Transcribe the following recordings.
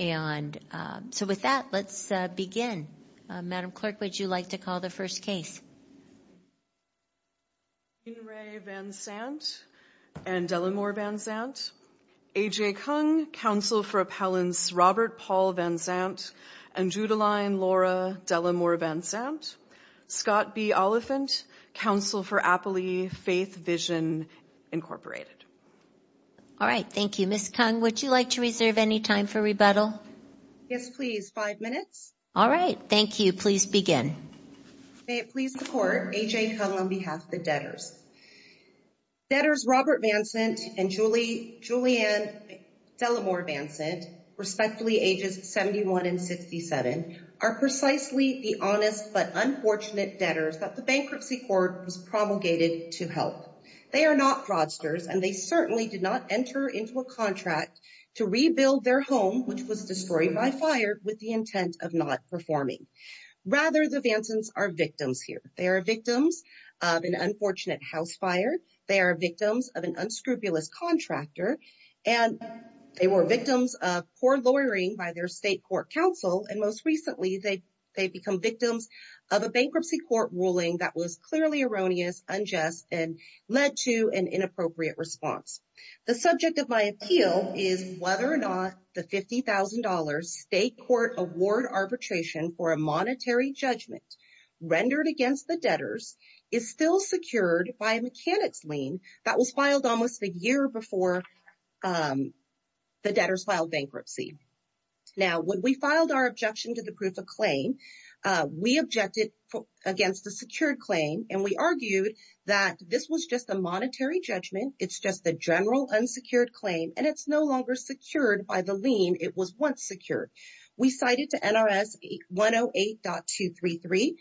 AJ Kung, Counsel for Appellants Robert-Paul Vansant and Judeline-Laura Dellimore-Vansant Scott B. Oliphant, Counsel for Appellee Faith Vision Incorporated All right. Thank you. Ms. Kung, would you like to reserve any time for rebuttal? Yes, please. Five minutes. All right. Thank you. Please begin. May it please the Court, AJ Kung on behalf of the debtors. Debtors Robert-Paul Vansant and Judeline-Laura Dellimore-Vansant, respectfully ages 71 and 67, are precisely the honest but unfortunate debtors that the bankruptcy court was promulgated to help. They are not fraudsters, and they certainly did not enter into a contract to rebuild their home, which was destroyed by fire, with the intent of not performing. Rather, the Vansants are victims here. They are victims of an unfortunate house fire. They are victims of an unscrupulous contractor. And they were victims of poor lawyering by their state court counsel. And most recently, they've become victims of a bankruptcy court ruling that was clearly erroneous, unjust, and led to an inappropriate response. The subject of my appeal is whether or not the $50,000 state court award arbitration for a monetary judgment rendered against the debtors is still secured by a mechanics lien that was filed almost a year before the debtors filed bankruptcy. Now, when we filed our objection to the proof of claim, we objected against the secured claim, and we argued that this was just a monetary judgment. It's just the general unsecured claim, and it's no longer secured by the lien it was once secured. We cited to NRS 108.233,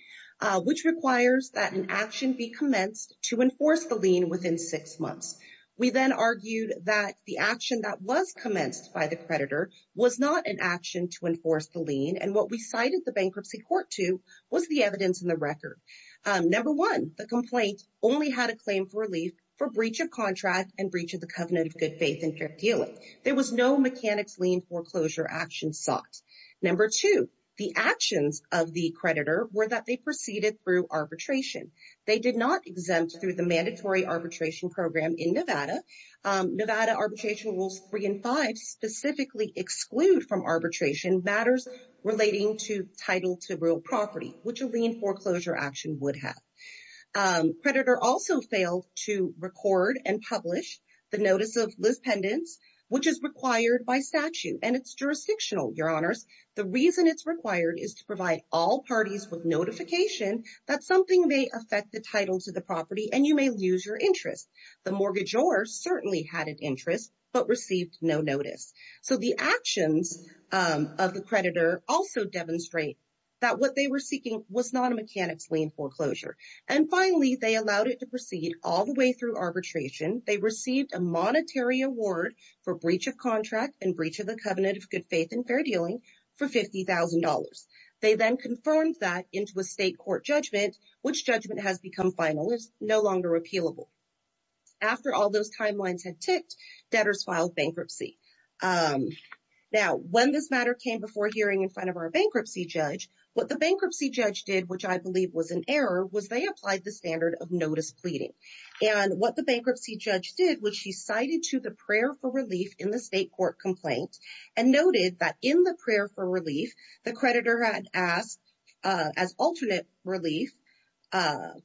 which requires that an action be commenced to enforce the lien within six months. We then argued that the action that was commenced by the creditor was not an action to enforce the lien. And what we cited the bankruptcy court to was the evidence in the record. Number one, the complaint only had a claim for relief for breach of contract and breach of the covenant of good faith and fair dealing. There was no mechanics lien foreclosure action sought. Number two, the actions of the creditor were that they proceeded through arbitration. They did not exempt through the mandatory arbitration program in Nevada. Nevada Arbitration Rules 3 and 5 specifically exclude from arbitration matters relating to title to real property, which a lien foreclosure action would have. Creditor also failed to record and publish the notice of lispendence, which is required by statute, and it's jurisdictional, your honors. The reason it's required is to provide all parties with notification that something may affect the title to the property and you may lose your interest. The mortgagor certainly had an interest but received no notice. So the actions of the creditor also demonstrate that what they were seeking was not a mechanics lien foreclosure. And finally, they allowed it to proceed all the way through arbitration. They received a monetary award for breach of contract and breach of the covenant of good faith and fair dealing for $50,000. They then confirmed that into a state court judgment, which judgment has become final, it's no longer appealable. After all those timelines had ticked, debtors filed bankruptcy. Now, when this matter came before hearing in front of our bankruptcy judge, what the bankruptcy judge did, which I believe was an error, was they applied the standard of notice pleading. And what the bankruptcy judge did was she cited to the prayer for relief in the state court complaint and noted that in the prayer for relief, the creditor had asked as alternate relief,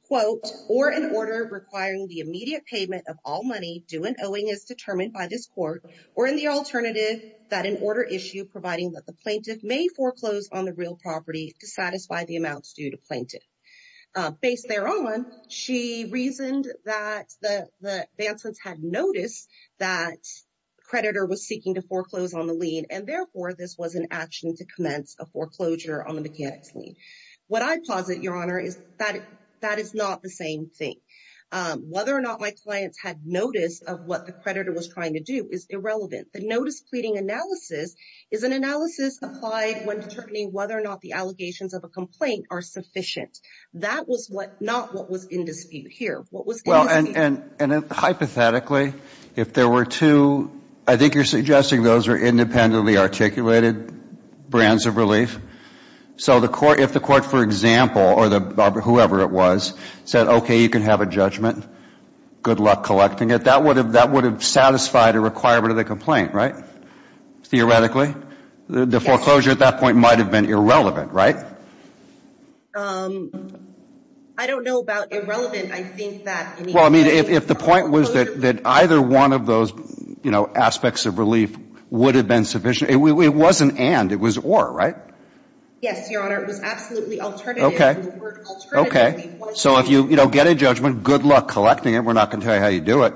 quote, or an order requiring the immediate payment of all money due and owing as determined by this court or in the alternative that an order issue providing that the plaintiff may foreclose on the real property to satisfy the amounts due to plaintiff. Based thereon, she reasoned that the advancements had noticed that creditor was seeking to foreclose on the lien and therefore this was an action to commence a foreclosure on the mechanics lien. What I posit, your honor, is that that is not the same thing. Whether or not my clients had notice of what the creditor was trying to do is irrelevant. The notice pleading analysis is an analysis applied when determining whether or not the allegations of a complaint are sufficient. That was what not what was in dispute here. What was well and and and hypothetically, if there were two, I think you're suggesting those are independently articulated brands of relief. So the court, if the court, for example, or the whoever it was said, okay, you can have a judgment. Good luck collecting it. That would have that would have satisfied a requirement of the complaint, right? Theoretically, the foreclosure at that point might have been irrelevant, right? Um, I don't know about irrelevant. I think that well, I mean, if the point was that that either one of those, you know, aspects of relief would have been sufficient. It wasn't and it was or right? Yes, your honor. It was absolutely alternative. Okay. Okay. So if you get a judgment, good luck collecting it. We're not going to tell you how you do it.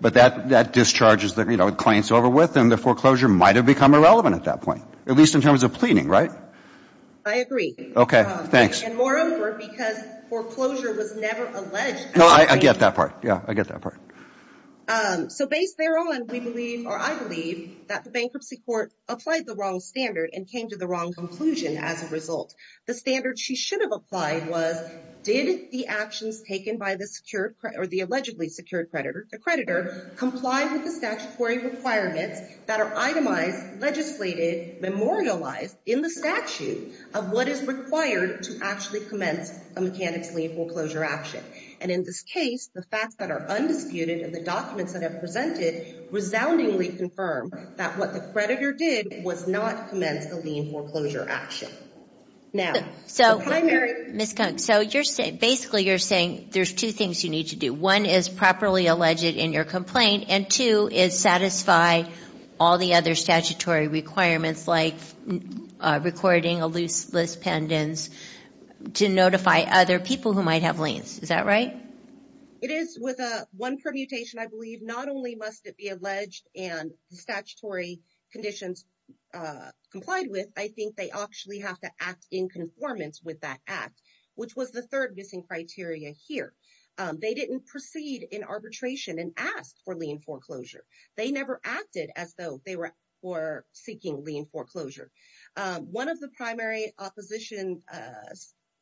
But that that discharges that, you know, it claims over with and the foreclosure might have become irrelevant at that point, at least in terms of pleading, right? I agree. Okay. Thanks. And moreover, because foreclosure was never alleged. No, I get that part. Yeah, I get that part. So based there on, we believe, or I believe that the bankruptcy court applied the wrong standard and came to the wrong conclusion. As a result, the standard she should have applied was did the actions taken by the secure or the allegedly secured creditor, the creditor complied with the statutory requirements that are itemized, legislated, memorialized in the statute of what is required to actually commence a mechanic's lien foreclosure action. And in this case, the facts that are undisputed and the documents that have presented resoundingly confirm that what the creditor did was not commence a lien foreclosure action. Now, so, so you're saying basically you're saying there's two things you need to do. One is properly alleged in your complaint. And two is satisfy all the other statutory requirements like recording a loose list pendants to notify other people who might have liens. Is that right? It is with a one permutation. I believe not only must it be alleged and the statutory conditions complied with, I think they actually have to act in conformance with that act, which was the third missing criteria here. They didn't proceed in arbitration and asked for lien foreclosure. They never acted as though they were seeking lien foreclosure. One of the primary opposition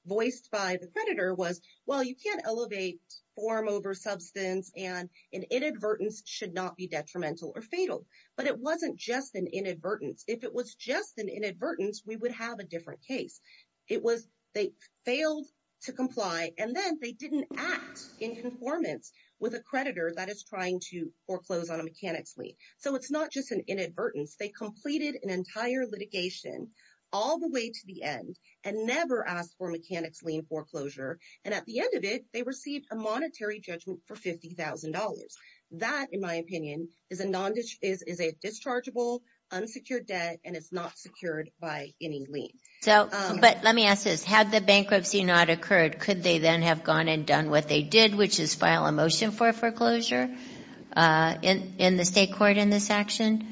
voiced by the creditor was, well, you can't elevate form over substance and an inadvertence should not be detrimental or fatal. But it wasn't just an inadvertence. If it was just an inadvertence, we would have a different case. It was, they failed to comply. And then they didn't act in conformance with a creditor that is trying to foreclose on a mechanics lien. So it's not just an inadvertence. They completed an entire litigation all the way to the end and never asked for mechanics lien foreclosure. And at the end of it, they received a monetary judgment for $50,000. That, in my opinion, is a dischargeable, unsecured debt, and it's not secured by any lien. So, but let me ask this. Had the bankruptcy not occurred, could they then have gone and done what they did, which is file a motion for foreclosure in the state court in this action?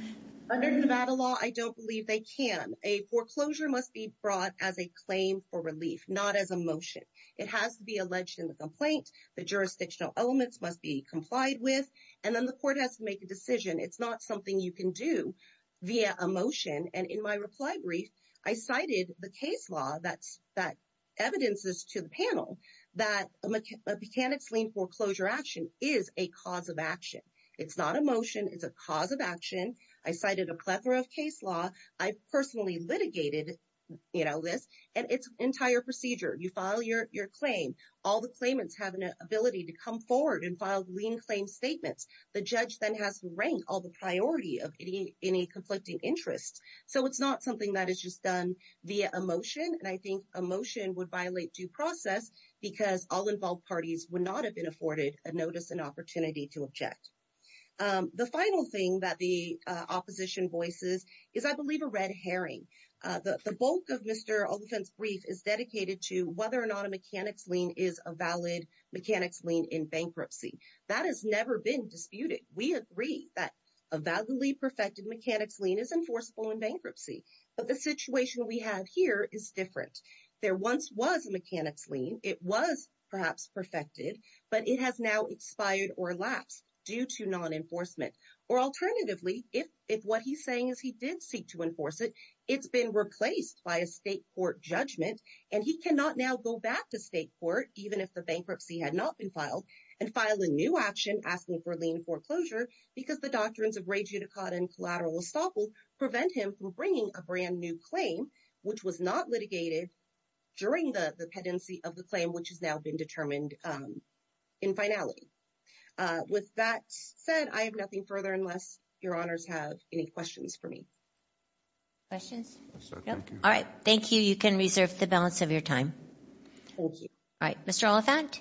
Under Nevada law, I don't believe they can. A foreclosure must be brought as a claim for relief, not as a motion. It has to be alleged in the complaint. The jurisdictional elements must be complied with, and then the court has to make a decision. It's not something you can do via a motion. And in my reply brief, I cited the case law that evidences to the panel that a mechanics lien foreclosure action is a cause of action. It's not a motion. It's a cause of action. I cited a plethora of case law. I personally litigated, you know, this and its entire procedure. You file your claim. All the claimants have an ability to come forward and file lien claim statements. The judge then has to rank all the priority of any conflicting interests. So, it's not something that is just done via a motion, and I think a motion would violate due process because all involved parties would not have been afforded a notice and opportunity to object. The final thing that the opposition voices is, I believe, a red herring. The bulk of Mr. Alderfin's brief is dedicated to whether or not a mechanics lien is a valid mechanics lien in bankruptcy. That has never been disputed. We agree that a validly perfected mechanics lien is enforceable in bankruptcy, but the situation we have here is different. There once was a mechanics lien. It was perhaps perfected, but it has now expired or lapsed due to non-enforcement. Or alternatively, if what he's saying is he did seek to enforce it, it's been replaced by a state court judgment, and he cannot now go back to state court, even if the bankruptcy had not been filed, and file a new action asking for lien foreclosure because the doctrines of re judicata and collateral estoppel prevent him from bringing a brand new claim, which was not litigated during the pendency of the claim, which has now been determined in finality. With that said, I have nothing further unless your honors have any questions for me. Questions? All right. Thank you. You can reserve the balance of your time. Thank you. All right. Mr. Oliphant?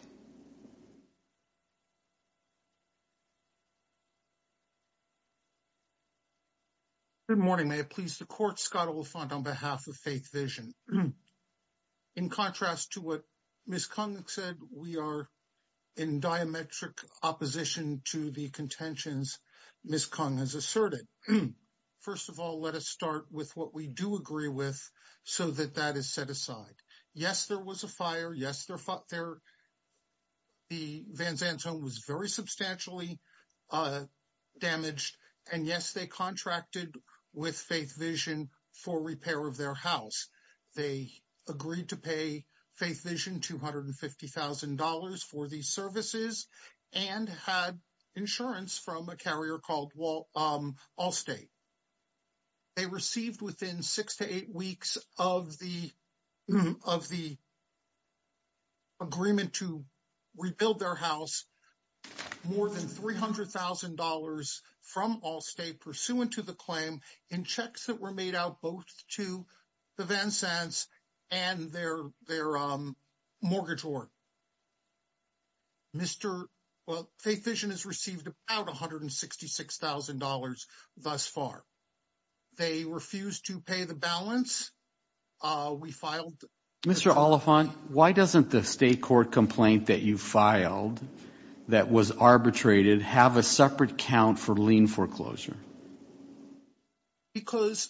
Good morning. May it please the court, Scott Oliphant on behalf of Faith Vision. In contrast to what Ms. Kung said, we are in diametric opposition to the contentions Ms. Kung has asserted. First of all, let us start with what we do agree with so that that is set aside. Yes, there was a fire. Yes, the Van Zandt home was very substantially damaged. And yes, they contracted with Faith Vision for repair of their house. They agreed to pay Faith Vision $250,000 for these services and had insurance from a carrier called Allstate. They received within six to eight weeks of the agreement to rebuild their house more than $300,000 from Allstate pursuant to the claim in checks that were made out both to the Van Zandts and their mortgage org. Faith Vision has received about $166,000 thus far. They refused to pay the balance. We filed. Mr. Oliphant, why doesn't the state court complaint that you filed that was arbitrated have a separate count for lien foreclosure? Because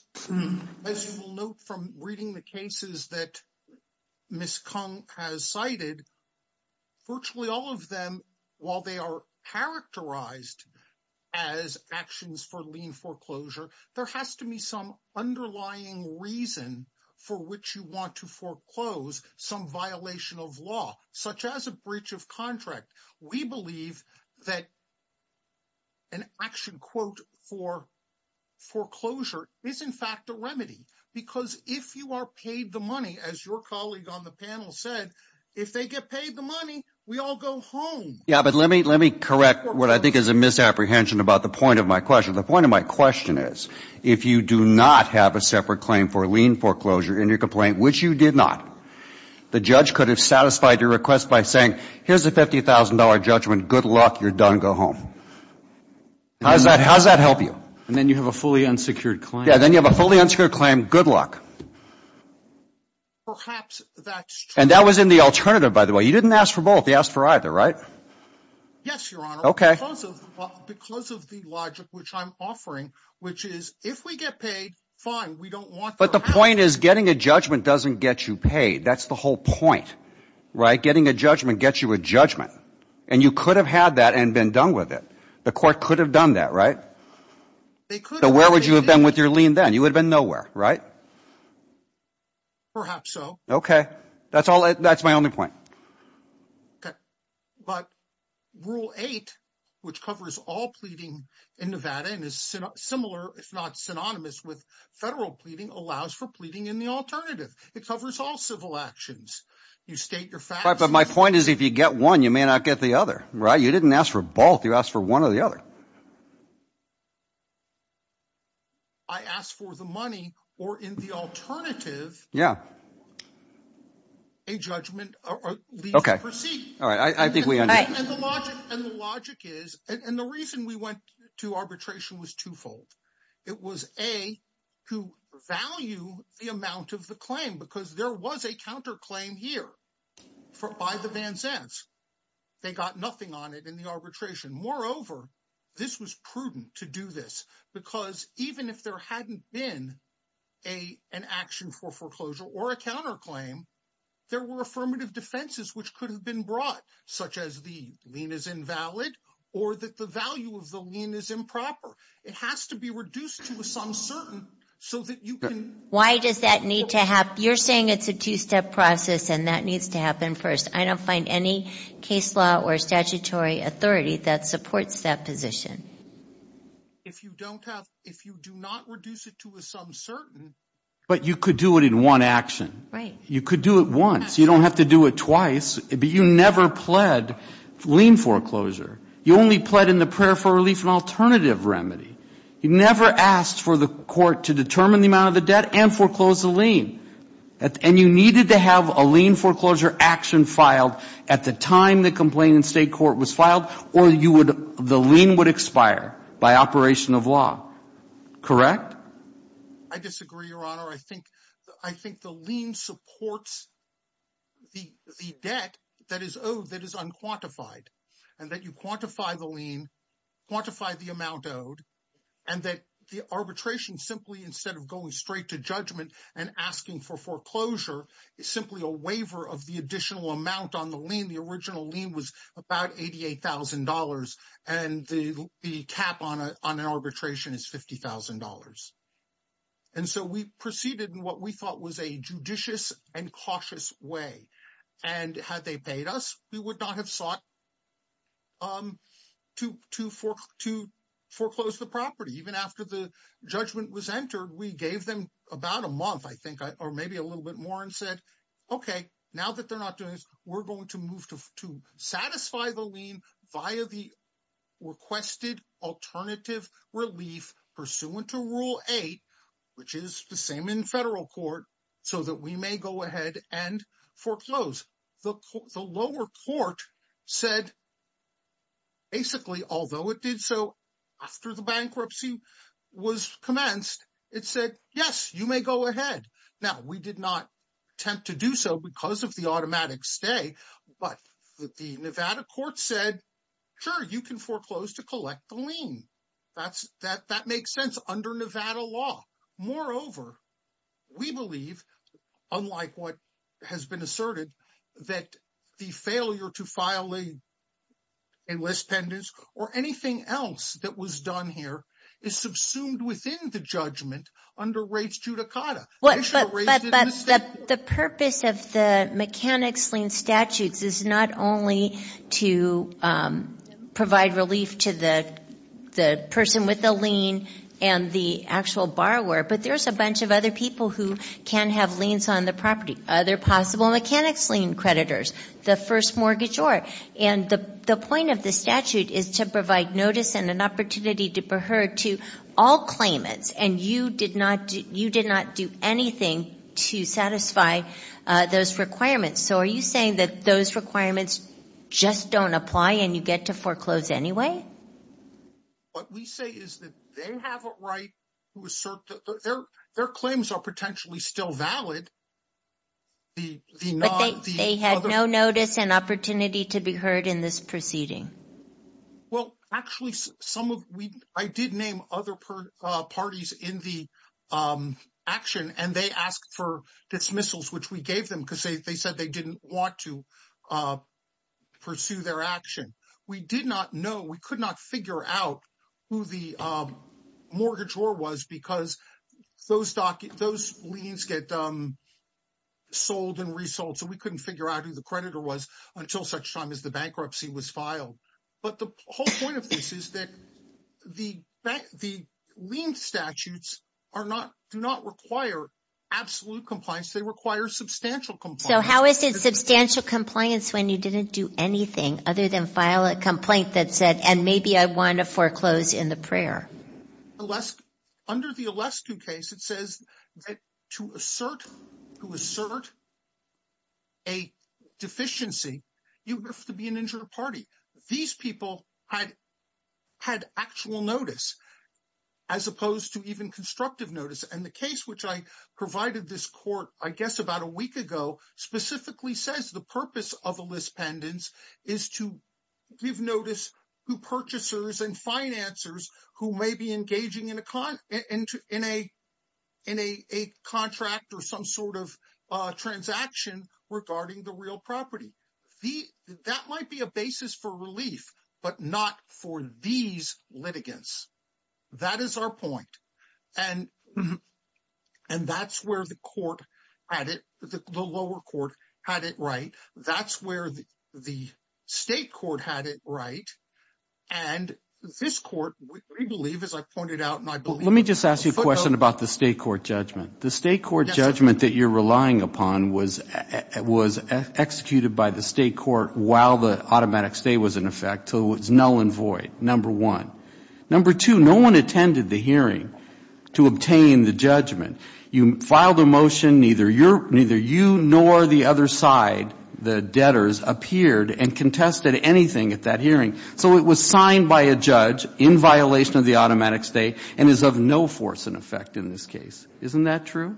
as you'll note from reading the cases that Ms. Kung has cited, virtually all of them, while they are characterized as actions for lien foreclosure, there has to be some underlying reason for which you want to foreclose some violation of law, such as a breach of contract. We believe that an action quote for foreclosure is, in fact, a remedy. Because if you are paid the money, as your colleague on the panel said, if they get paid the money, we all go home. Yeah, but let me correct what I think is a misapprehension about the point of my question. The point of my question is, if you do not have a separate claim for lien foreclosure in your complaint, which you did not, the judge could have satisfied your request by saying, here's a $50,000 judgment. Good luck. You're done. Go home. How does that help you? And then you have a fully unsecured claim. Yeah, then you have a fully unsecured claim. Good luck. Perhaps that's true. And that was in the alternative, by the way. You didn't ask for both. You asked for either, right? Yes, Your Honor. Okay. Because of the logic which I'm offering, which is, if we get paid, fine. We don't want their help. But the point is, getting a judgment doesn't get you paid. That's the whole point, right? Getting a judgment gets you a judgment. And you could have had that and been done with it. The Court could have done that, right? So where would you have been with your lien then? You would have been nowhere, right? Perhaps so. Okay. That's my only point. But Rule 8, which covers all pleading in Nevada and is similar, if not synonymous with federal pleading, allows for pleading in the alternative. It covers all civil actions. You state your facts. But my point is, if you get one, you may not get the other, right? You didn't ask for both. You asked for one or the other. I asked for the money or in the alternative. Yeah. A judgment. Okay. All right. I think we understand. And the logic is, and the reason we went to arbitration was twofold. It was, A, to value the amount of the claim because there was a counterclaim here by the Van Zands. They got nothing on it in the arbitration. Moreover, this was prudent to do this because even if there hadn't been an action for foreclosure or a counterclaim, there were affirmative defenses which could have been brought, such as the lien is invalid or that the value of the lien is improper. It has to be reduced to some certain so that you can- Why does that need to happen? You're saying it's a two-step process and that needs to happen first. I don't find any case law or statutory authority that supports that position. If you don't have, if you do not reduce it to a some certain- But you could do it in one action. Right. You could do it once. You don't have to do it twice. But you never pled lien foreclosure. You only pled in the prayer for relief and alternative remedy. You never asked for the court to determine the amount of the debt and foreclose the lien. And you needed to have a lien foreclosure action filed at the time the complaint in state court was filed or the lien would expire by operation of law. Correct? I disagree, Your Honor. I think the lien supports the debt that is owed that is unquantified. And that you quantify the lien, quantify the amount owed, and that the arbitration simply instead of going straight to judgment and asking for foreclosure is simply a waiver of the additional amount on the lien. The original lien was about $88,000. And the cap on an arbitration is $50,000. And so we proceeded in what we thought was a judicious and cautious way. And had they paid us, we would not have sought to foreclose the property. Even after the judgment was entered, we gave them about a month, I think, or maybe a little bit more and said, OK, now that they're not doing this, we're going to move to satisfy the lien via the requested alternative relief pursuant to Rule 8, which is the same in federal court, so that we may go ahead and foreclose. The lower court said basically, although it did so after the bankruptcy was commenced, it said, yes, you may go ahead. Now, we did not attempt to do so because of the automatic stay. But the Nevada court said, sure, you can foreclose to collect the lien. That makes sense under Nevada law. Moreover, we believe, unlike what has been that was done here, is subsumed within the judgment under Rates Judicata. They should have raised it in the state court. But the purpose of the mechanics lien statutes is not only to provide relief to the person with the lien and the actual borrower, but there's a bunch of other people who can have liens on the property, other possible mechanics lien creditors, the first mortgagor. And the point of the statute is to provide notice and an opportunity to be heard to all claimants. And you did not do anything to satisfy those requirements. So are you saying that those requirements just don't apply and you get to foreclose anyway? What we say is that they have a right to assert that their claims are potentially still valid. But they had no notice and opportunity to be heard in this proceeding. Well, actually, I did name other parties in the action and they asked for dismissals, which we gave them because they said they didn't want to pursue their action. We did not know, we could not figure out who the mortgagor was because those liens get sold and resold. So we couldn't figure out who the creditor was until such time as the bankruptcy was filed. But the whole point of this is that the lien statutes do not require absolute compliance, they require substantial compliance. So how is it substantial compliance when you didn't do anything other than file a complaint that said, and maybe I want to foreclose in the prayer? Under the Alescu case, it says that to assert a deficiency, you have to be an injured party. These people had actual notice, as opposed to even constructive notice. And the case, which I provided this court, I guess about a week ago, specifically says the purpose of a purchasers and financers who may be engaging in a contract or some sort of transaction regarding the real property. That might be a basis for relief, but not for these litigants. That is our point. And that's where the lower court had it right. That's where the state court had it right. And this court, we believe, as I pointed out, and I believe- Let me just ask you a question about the state court judgment. The state court judgment that you're relying upon was executed by the state court while the automatic stay was in effect, so it was null and void, number one. Number two, no one attended the hearing to obtain the judgment. You filed a motion, neither you nor the other side, the debtors, appeared and contested anything at that hearing. So it was signed by a judge in violation of the automatic stay and is of no force and effect in this case. Isn't that true?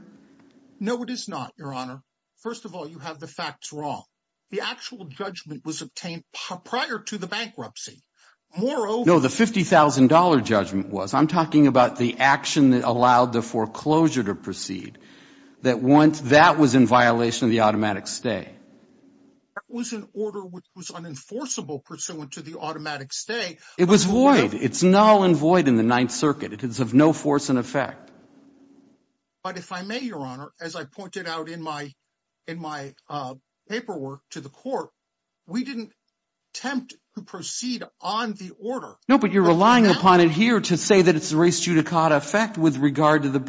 No, it is not, Your Honor. First of all, you have the facts wrong. The actual judgment was obtained prior to the bankruptcy. Moreover- No, the $50,000 judgment was. I'm talking about the action that allowed the foreclosure to proceed, that once that was in violation of the automatic stay. That was an order which was unenforceable pursuant to the automatic stay. It was void. It's null and void in the Ninth Circuit. It is of no force and effect. But if I may, Your Honor, as I pointed out in my paperwork to the court, we didn't attempt to proceed on the order. No, but you're relying upon it here to say that it's a res judicata effect with regard to the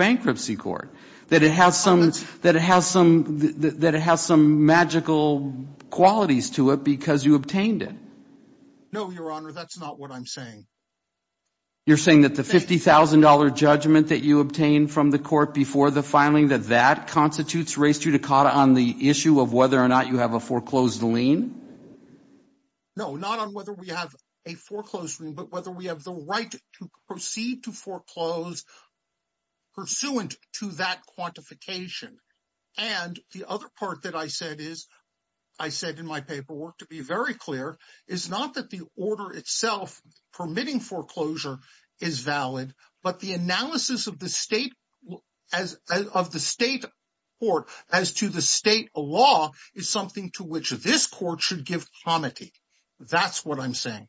qualities to it because you obtained it. No, Your Honor, that's not what I'm saying. You're saying that the $50,000 judgment that you obtained from the court before the filing, that that constitutes res judicata on the issue of whether or not you have a foreclosed lien? No, not on whether we have a foreclosed lien, but whether we have the right to proceed to foreclose pursuant to that quantification. And the other part that I I said in my paperwork, to be very clear, is not that the order itself permitting foreclosure is valid, but the analysis of the state of the state court as to the state law is something to which this court should give comity. That's what I'm saying.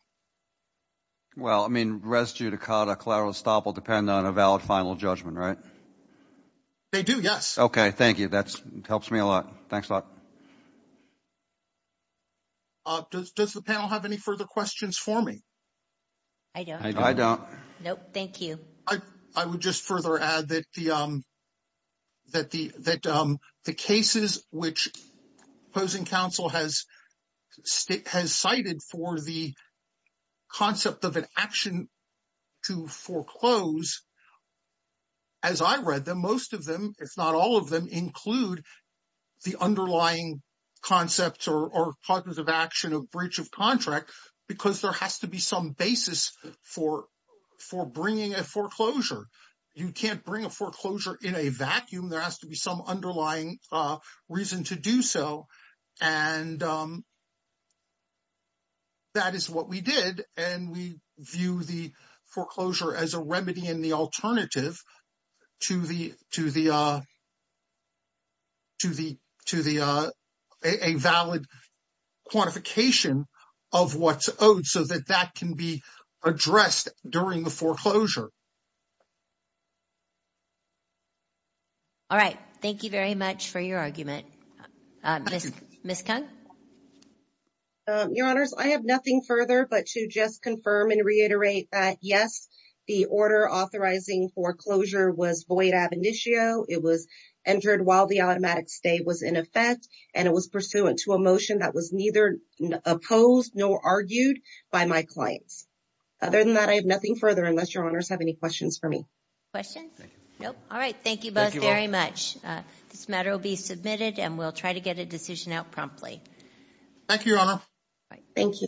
Well, I mean, res judicata, collateral estoppel depend on a valid final judgment, right? They do, yes. Okay, thank you. That helps me a lot. Thanks a lot. Does the panel have any further questions for me? I don't. No, thank you. I would just further add that the cases which opposing counsel has cited for the concept of an action to foreclose, as I read them, most of them, if not all of them, include the underlying concepts or cognitive action of breach of contract because there has to be some basis for bringing a foreclosure. You can't bring a foreclosure in a vacuum. There has to be some underlying reason to do so, and that is what we did, and we view the foreclosure as a remedy and the alternative to a valid quantification of what's owed so that that can be addressed during the foreclosure. All right. Thank you very much for your argument. Ms. Cung? Your Honors, I have nothing further but to just confirm and reiterate that, yes, the order authorizing foreclosure was void ab initio. It was entered while the automatic stay was in effect, and it was pursuant to a motion that was neither opposed nor argued by my clients. Other than that, I have nothing further unless Your Honors have any questions for me. Questions? No. All right. Thank you both very much. This matter will be submitted, and we'll try to get a decision out promptly. Thank you, Your Honor. Thank you.